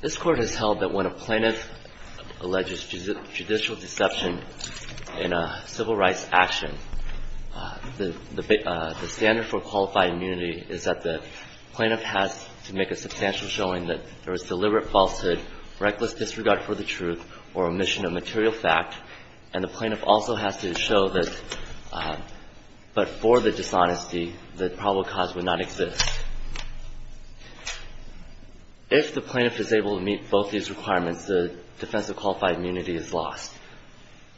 This Court has held that when a plaintiff alleges judicial deception in a civil rights action, the standard for qualified immunity is that the plaintiff has to make a substantial deliberate falsehood, reckless disregard for the truth, or omission of material fact, and the plaintiff also has to show that for the dishonesty, the probable cause would not exist. If the plaintiff is able to meet both these requirements, the defense of qualified immunity is lost.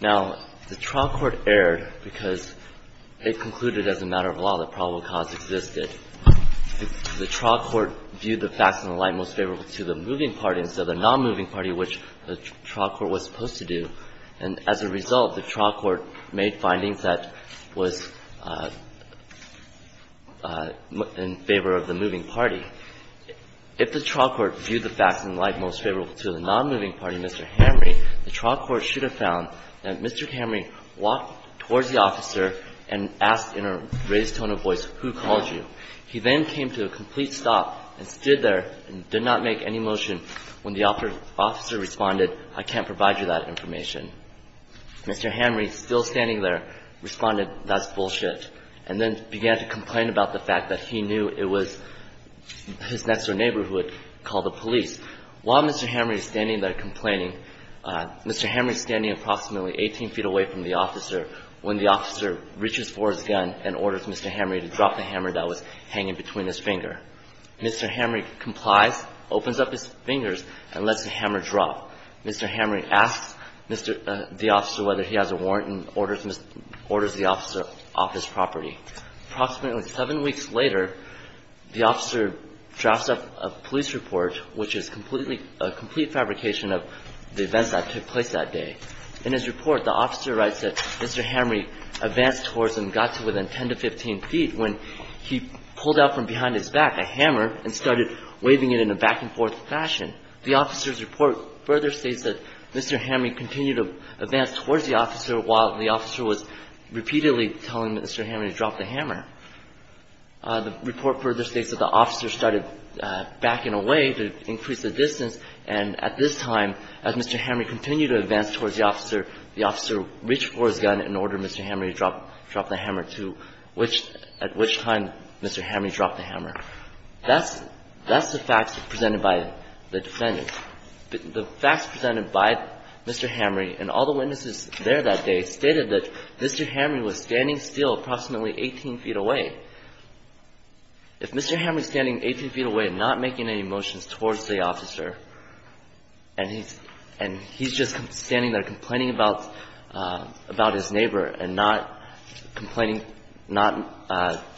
Now, the trial court erred because it concluded as a matter of law that probable cause existed. If the trial court viewed the facts in the light most favorable to the moving party instead of the nonmoving party, which the trial court was supposed to do, and as a result, the trial court made findings that was in favor of the moving party, if the trial court viewed the facts in the light most favorable to the nonmoving party, Mr. Hamre, the trial court should have found that Mr. Hamre walked towards the officer and asked in a raised tone of voice, who called you? He then came to a complete stop and stood there and did not make any motion when the officer responded, I can't provide you that information. Mr. Hamre, still standing there, responded, that's bullshit, and then began to complain about the fact that he knew it was his next-door neighborhood called the police. While Mr. Hamre is standing there complaining, Mr. Hamre is standing approximately 18 feet away from the officer when the officer reaches for his gun and orders Mr. Hamre to drop the hammer that was hanging between his finger. Mr. Hamre complies, opens up his fingers, and lets the hammer drop. Mr. Hamre asks the officer whether he has a warrant and orders the officer off his property. Approximately seven weeks later, the officer drafts up a police report, which is a complete fabrication of the events that took place that day. In his report, the officer writes that Mr. Hamre advanced towards and got to within 10 to 15 feet when he pulled out from behind his back a hammer and started waving it in a back-and-forth fashion. The officer's report further states that Mr. Hamre continued to advance towards the officer while the officer was repeatedly telling Mr. Hamre to drop the hammer. The report further states that the officer started backing away to increase the distance, and at this time, as Mr. Hamre continued to advance towards the officer, the officer reached for his gun and ordered Mr. Hamre to drop the hammer, too, at which time Mr. Hamre dropped the hammer. That's the facts presented by the defendant. The facts presented by Mr. Hamre and all the witnesses there that day stated that Mr. Hamre was standing still approximately 18 feet away. If Mr. Hamre is standing 18 feet away and not making any motions towards the officer, and he's just standing there complaining about his neighbor and not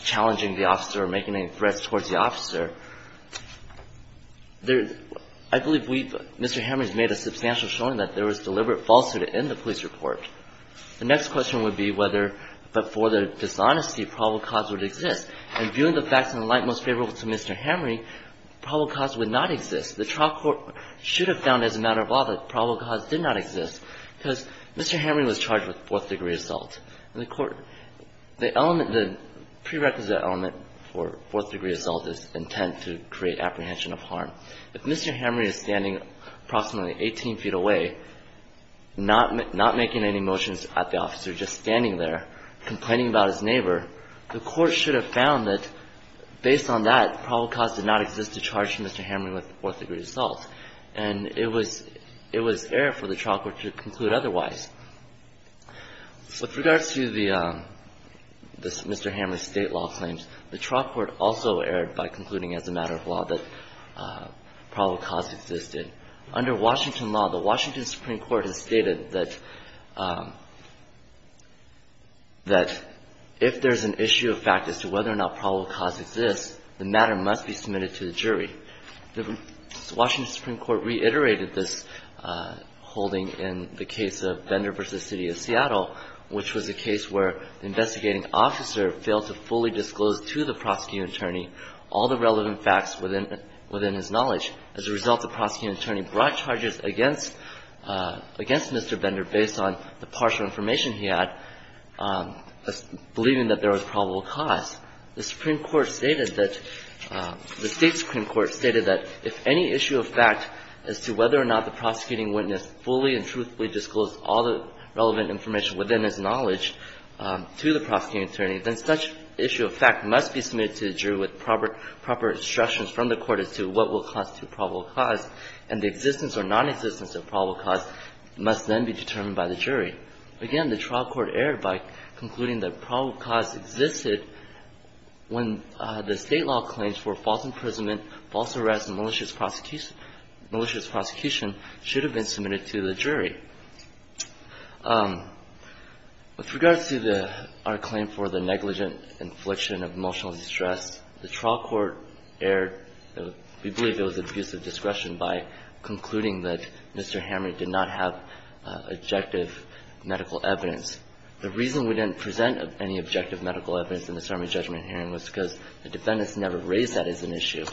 challenging the officer or making any threats towards the officer, I believe Mr. Hamre has made a substantial showing that there was deliberate falsity in the police report. The next question would be whether, but for the dishonesty, probable cause would exist. And viewing the facts in the light most favorable to Mr. Hamre, probable cause would not exist. The trial court should have found, as a matter of law, that probable cause did not exist because Mr. Hamre was charged with fourth-degree assault. And the court – the element – the prerequisite element for fourth-degree assault is intent to create apprehension of harm. If Mr. Hamre is standing approximately 18 feet away, not making any motions at the officer, just standing there complaining about his neighbor, the court should have found that, based on that, probable cause did not exist to charge Mr. Hamre with fourth-degree assault. And it was – it was error for the trial court to conclude otherwise. With regards to the – this Mr. Hamre's State law claims, the trial court also erred by concluding, as a matter of law, that probable cause existed. Under Washington law, the Washington Supreme Court has stated that – that if there's an issue of fact as to whether or not probable cause exists, the matter must be submitted to the jury. The Washington Supreme Court reiterated this holding in the case of Bender v. City of Seattle, which was a case where the investigating officer failed to fully disclose to the prosecuting attorney all the relevant facts within – within his knowledge. As a result, the prosecuting attorney brought charges against – against Mr. Bender based on the partial information he had, believing that there was probable cause. The Supreme Court stated that – the State Supreme Court stated that if any issue of fact as to whether or not the prosecuting witness fully and truthfully disclosed all the relevant information within his knowledge to the prosecuting attorney, then such issue of fact must be submitted to the jury with proper – proper instructions from the court as to what will constitute probable cause, and the existence or nonexistence of probable cause must then be determined by the jury. Again, the trial court erred by concluding that probable cause existed when the State law claims for false imprisonment, false arrest, and malicious prosecution – malicious prosecution should have been submitted to the jury. With regards to the – our claim for the negligent infliction of emotional distress, the trial court erred – we believe it was abusive discretion by concluding that Mr. Hamrick did not have objective medical evidence. The reason we didn't present any objective medical evidence in the Sermon on Judgment hearing was because the defendants never raised that as an issue.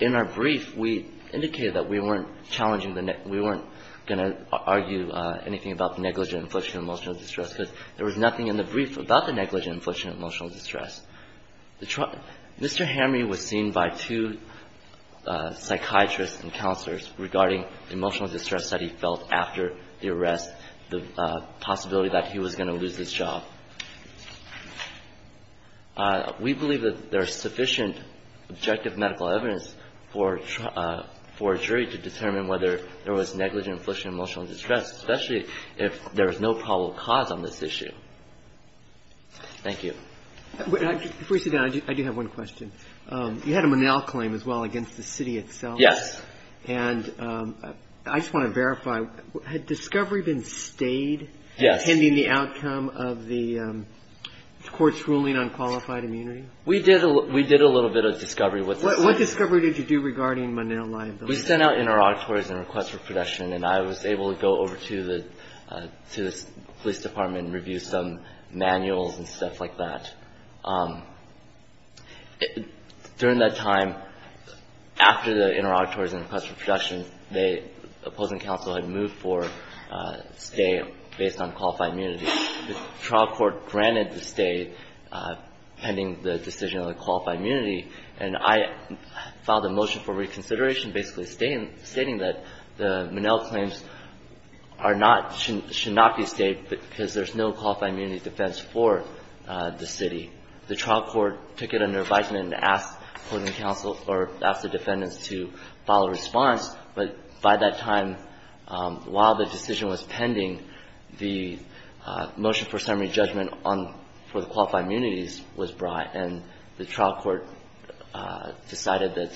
In our brief, we indicated that we weren't challenging the – we weren't going to argue anything about the negligent infliction of emotional distress because there was nothing in the brief about the negligent infliction of emotional distress. The – Mr. Hamrick was seen by two psychiatrists and counselors regarding emotional distress that he felt after the arrest, the possibility that he was going to lose his job. We believe that there is sufficient objective medical evidence for a jury to determine whether there was negligent infliction of emotional distress, especially if there is no probable cause on this issue. Thank you. Before you sit down, I do have one question. You had a Monell claim as well against the city itself. Yes. And I just want to verify, had discovery been stayed? Yes. Pending the outcome of the court's ruling on qualified immunity? We did a little bit of discovery. What discovery did you do regarding Monell liability? We sent out interrogatories and requests for protection, and I was able to go over to the police department and review some manuals and stuff like that. During that time, after the interrogatories and requests for protection, the opposing counsel had moved for stay based on qualified immunity. The trial court granted the stay pending the decision on the qualified immunity, and I filed a motion for reconsideration basically stating that the Monell claims are not – should not be stayed because there's no qualified immunity defense for the city. The trial court took it under advisement and asked opposing counsel or asked the defendants to file a response. But by that time, while the decision was pending, the motion for summary judgment on – for the qualified immunities was brought, and the trial court decided that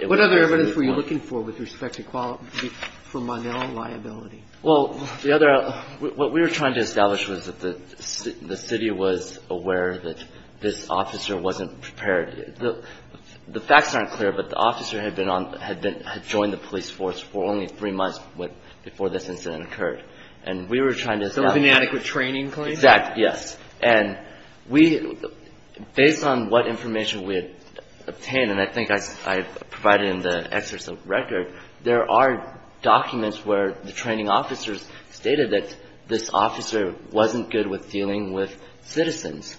it was What other evidence were you looking for with respect to Monell liability? Well, the other – what we were trying to establish was that the city was aware that this officer wasn't prepared. The facts aren't clear, but the officer had been on – had joined the police force for only three months before this incident occurred. And we were trying to establish – So it was an inadequate training claim? Exactly, yes. And we – based on what information we had obtained, and I think I provided in the there are documents where the training officers stated that this officer wasn't good with dealing with citizens.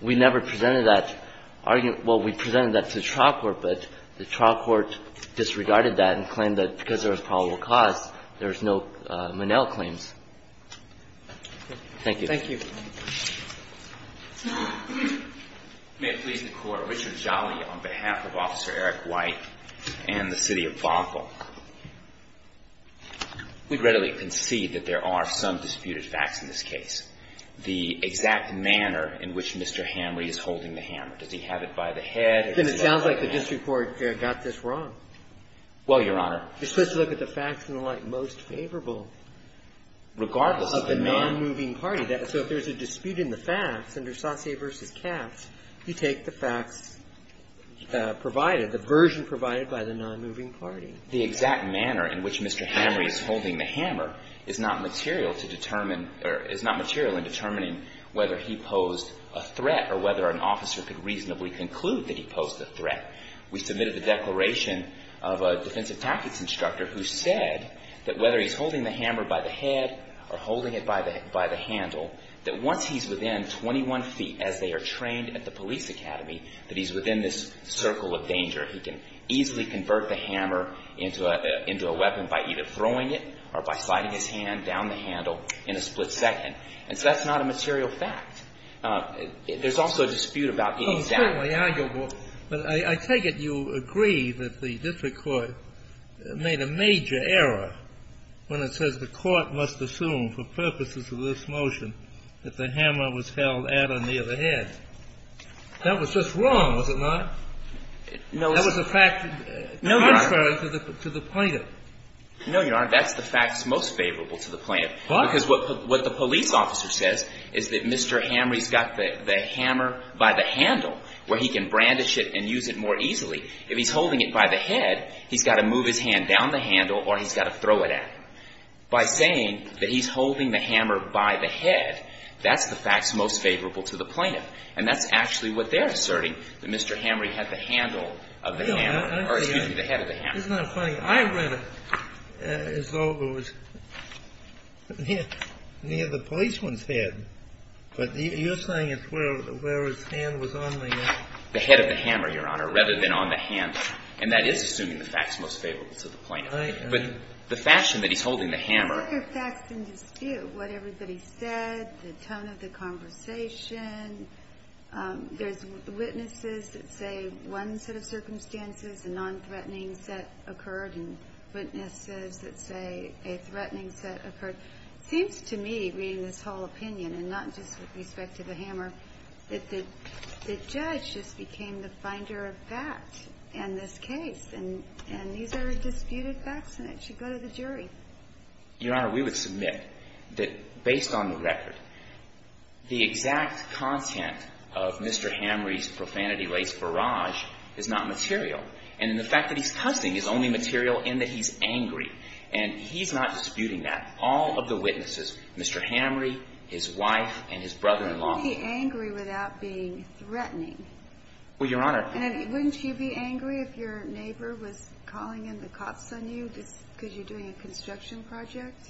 We never presented that – well, we presented that to the trial court, but the trial court disregarded that and claimed that because there was probable cause, there was no Monell claims. Thank you. Thank you. May it please the Court. Richard Jolly on behalf of Officer Eric White and the city of Bothell. We readily concede that there are some disputed facts in this case. The exact manner in which Mr. Hamrey is holding the hammer. Does he have it by the head? Then it sounds like the district court got this wrong. Well, Your Honor – You're supposed to look at the facts in the light most favorable. Regardless of the man – So if there's a dispute in the facts, under Sasse v. Katz, you take the facts provided, the version provided by the nonmoving party. The exact manner in which Mr. Hamrey is holding the hammer is not material to determine or is not material in determining whether he posed a threat or whether an officer could reasonably conclude that he posed a threat. We submitted the declaration of a defensive tactics instructor who said that whether he's within 21 feet as they are trained at the police academy, that he's within this circle of danger. He can easily convert the hammer into a weapon by either throwing it or by sliding his hand down the handle in a split second. And so that's not a material fact. There's also a dispute about the exact – Well, it's certainly arguable. But I take it you agree that the district court made a major error when it says the hammer was held at or near the head. That was just wrong, was it not? That was a fact contrary to the plaintiff. No, Your Honor. That's the facts most favorable to the plaintiff. Because what the police officer says is that Mr. Hamrey's got the hammer by the handle where he can brandish it and use it more easily. If he's holding it by the head, he's got to move his hand down the handle or he's got to throw it at him. By saying that he's holding the hammer by the head, that's the facts most favorable to the plaintiff. And that's actually what they're asserting, that Mr. Hamrey had the handle of the hammer or, excuse me, the head of the hammer. Isn't that funny? I read it as though it was near the policeman's head. But you're saying it's where his hand was on the – The head of the hammer, Your Honor, rather than on the handle. And that is assuming the facts most favorable to the plaintiff. Right. But the fashion that he's holding the hammer – I think there are facts in dispute. What everybody said, the tone of the conversation. There's witnesses that say one set of circumstances, a nonthreatening set occurred, and witnesses that say a threatening set occurred. It seems to me, reading this whole opinion, and not just with respect to the hammer, that the judge just became the finder of fact in this case. And these are disputed facts, and it should go to the jury. Your Honor, we would submit that, based on the record, the exact content of Mr. Hamrey's profanity-laced barrage is not material. And the fact that he's cussing is only material in that he's angry. And he's not disputing that. All of the witnesses, Mr. Hamrey, his wife, and his brother-in-law. Why would he be angry without being threatening? Well, Your Honor – And wouldn't you be angry if your neighbor was calling in the cops on you because you're doing a construction project?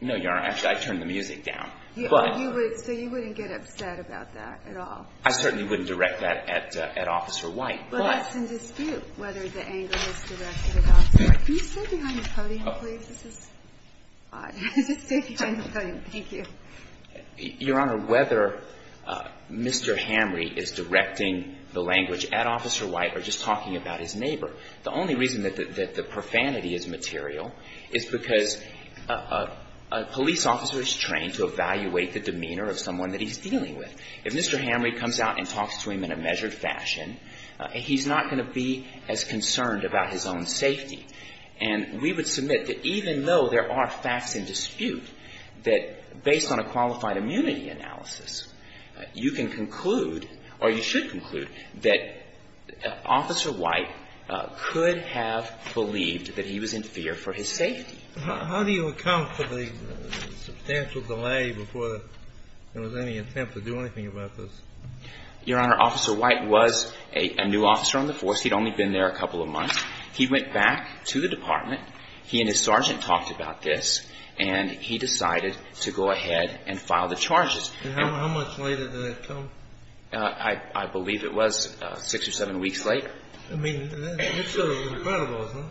No, Your Honor. Actually, I turned the music down. So you wouldn't get upset about that at all? I certainly wouldn't direct that at Officer White. But that's in dispute, whether the anger is directed at Officer White. Can you stay behind the podium, please? This is odd. Stay behind the podium. Thank you. Your Honor, whether Mr. Hamrey is directing the language at Officer White or just talking about his neighbor, the only reason that the profanity is material is because a police officer is trained to evaluate the demeanor of someone that he's dealing with. If Mr. Hamrey comes out and talks to him in a measured fashion, he's not going to be as concerned about his own safety. And we would submit that even though there are facts in dispute, that based on a qualified immunity analysis, you can conclude, or you should conclude, that Officer White could have believed that he was in fear for his safety. How do you account for the substantial delay before there was any attempt to do anything about this? Your Honor, Officer White was a new officer on the force. He'd only been there a couple of months. He went back to the department. He and his sergeant talked about this. And he decided to go ahead and file the charges. And how much later did that come? I believe it was six or seven weeks later. I mean, that's sort of incredible, isn't it?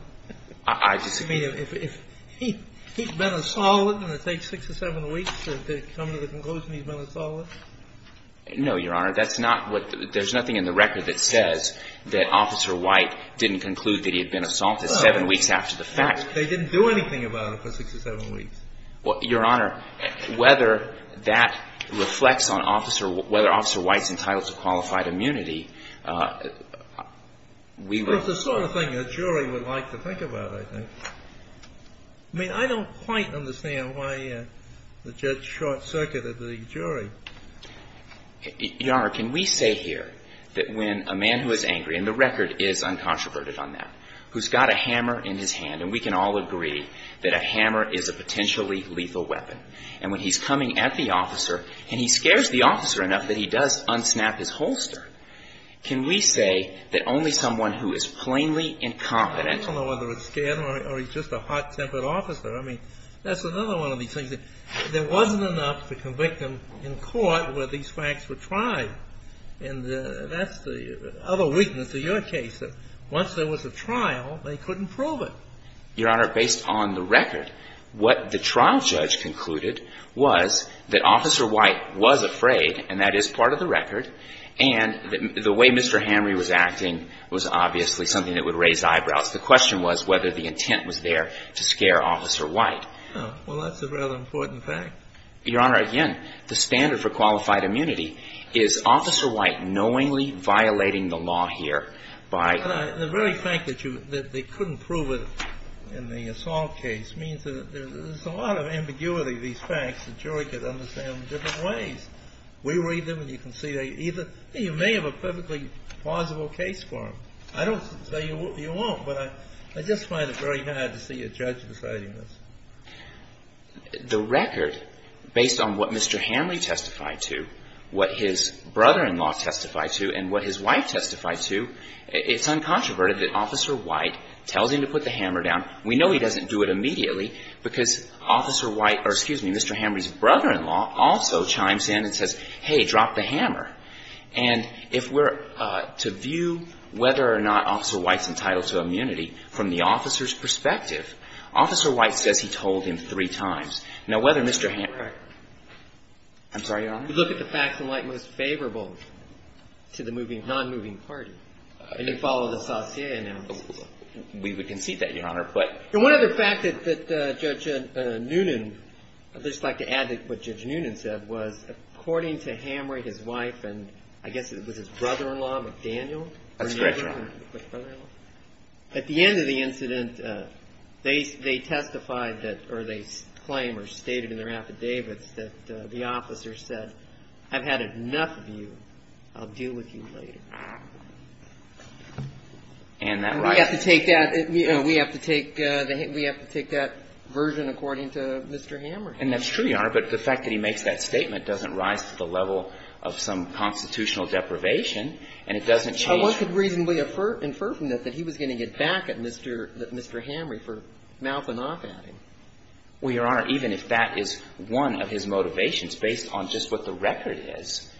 I just I mean, if he'd been a solid and it takes six or seven weeks to come to the conclusion he's been a solid? No, Your Honor. That's not what There's nothing in the record that says that Officer White didn't conclude that he had been assaulted seven weeks after the fact. They didn't do anything about it for six or seven weeks. Your Honor, whether that reflects on Officer Whether Officer White's entitled to qualified immunity, we will It's the sort of thing a jury would like to think about, I think. I mean, I don't quite understand why the judge short-circuited the jury. Your Honor, can we say here that when a man who is angry, and the record is uncontroverted on that, who's got a hammer in his hand, and we can all agree that a hammer is a potentially lethal weapon, and when he's coming at the officer and he scares the officer enough that he does unsnap his holster, can we say that only someone who is plainly incompetent I don't know whether it's scared or he's just a hot-tempered officer. I mean, that's another one of these things. There wasn't enough to convict him in court where these facts were tried. And that's the other weakness of your case, that once there was a trial, they couldn't prove it. Your Honor, based on the record, what the trial judge concluded was that Officer White was afraid, and that is part of the record, and the way Mr. Henry was acting was obviously something that would raise eyebrows. The question was whether the intent was there to scare Officer White. Well, that's a rather important fact. Your Honor, again, the standard for qualified immunity is Officer White knowingly violating the law here by The very fact that they couldn't prove it in the assault case means that there's a lot of ambiguity in these facts. The jury could understand them in different ways. We read them and you can see they either You may have a perfectly plausible case for him. I don't say you won't, but I just find it very hard to see a judge deciding The record, based on what Mr. Henry testified to, what his brother-in-law testified to, and what his wife testified to, it's uncontroverted that Officer White tells him to put the hammer down. We know he doesn't do it immediately because Officer White, or excuse me, Mr. Henry's brother-in-law also chimes in and says, hey, drop the hammer. And if we're to view whether or not Officer White's entitled to immunity from the three times. Now, whether Mr. Henry I'm sorry, Your Honor? We look at the facts in light most favorable to the non-moving party. And we follow the Saussure analysis. We would concede that, Your Honor, but And one other fact that Judge Noonan, I'd just like to add to what Judge Noonan said, was according to Henry, his wife, and I guess it was his brother-in-law, McDaniel That's correct, Your Honor. At the end of the incident, they testified that, or they claim or stated in their affidavits that the officer said, I've had enough of you. I'll deal with you later. And that right We have to take that version according to Mr. Hammer. And that's true, Your Honor, but the fact that he makes that statement doesn't rise to the level of some constitutional deprivation, and it doesn't change Well, it could reasonably infer from that that he was going to get back at Mr. Henry for mouthing off at him. Well, Your Honor, even if that is one of his motivations, based on just what the record is,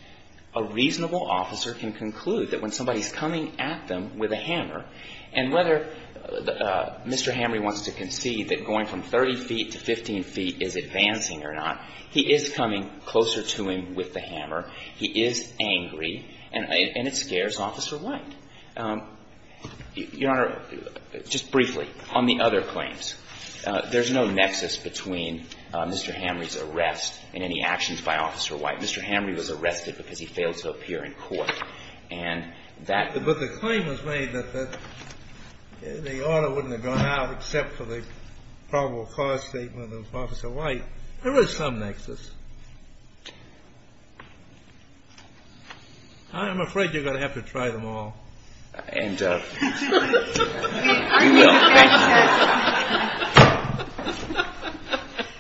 a reasonable officer can conclude that when somebody's coming at them with a hammer, and whether Mr. Henry wants to concede that going from 30 feet to 15 feet is advancing or not, he is coming closer to him with the hammer, he is angry, and it scares Officer White. Your Honor, just briefly, on the other claims. There's no nexus between Mr. Henry's arrest and any actions by Officer White. Mr. Henry was arrested because he failed to appear in court. And that But the claim was made that the order wouldn't have gone out except for the probable cause statement of Officer White. There was some nexus. I'm afraid you're going to have to try them all.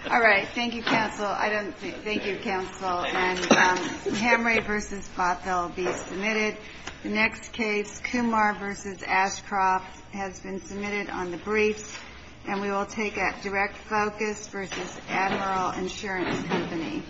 All right. Thank you, Counsel. I don't think. Thank you, Counsel. And Hemry v. Bothell be submitted. The next case, Kumar v. Ashcroft, has been submitted on the briefs, and we will take a direct focus versus Admiral Insurance Company.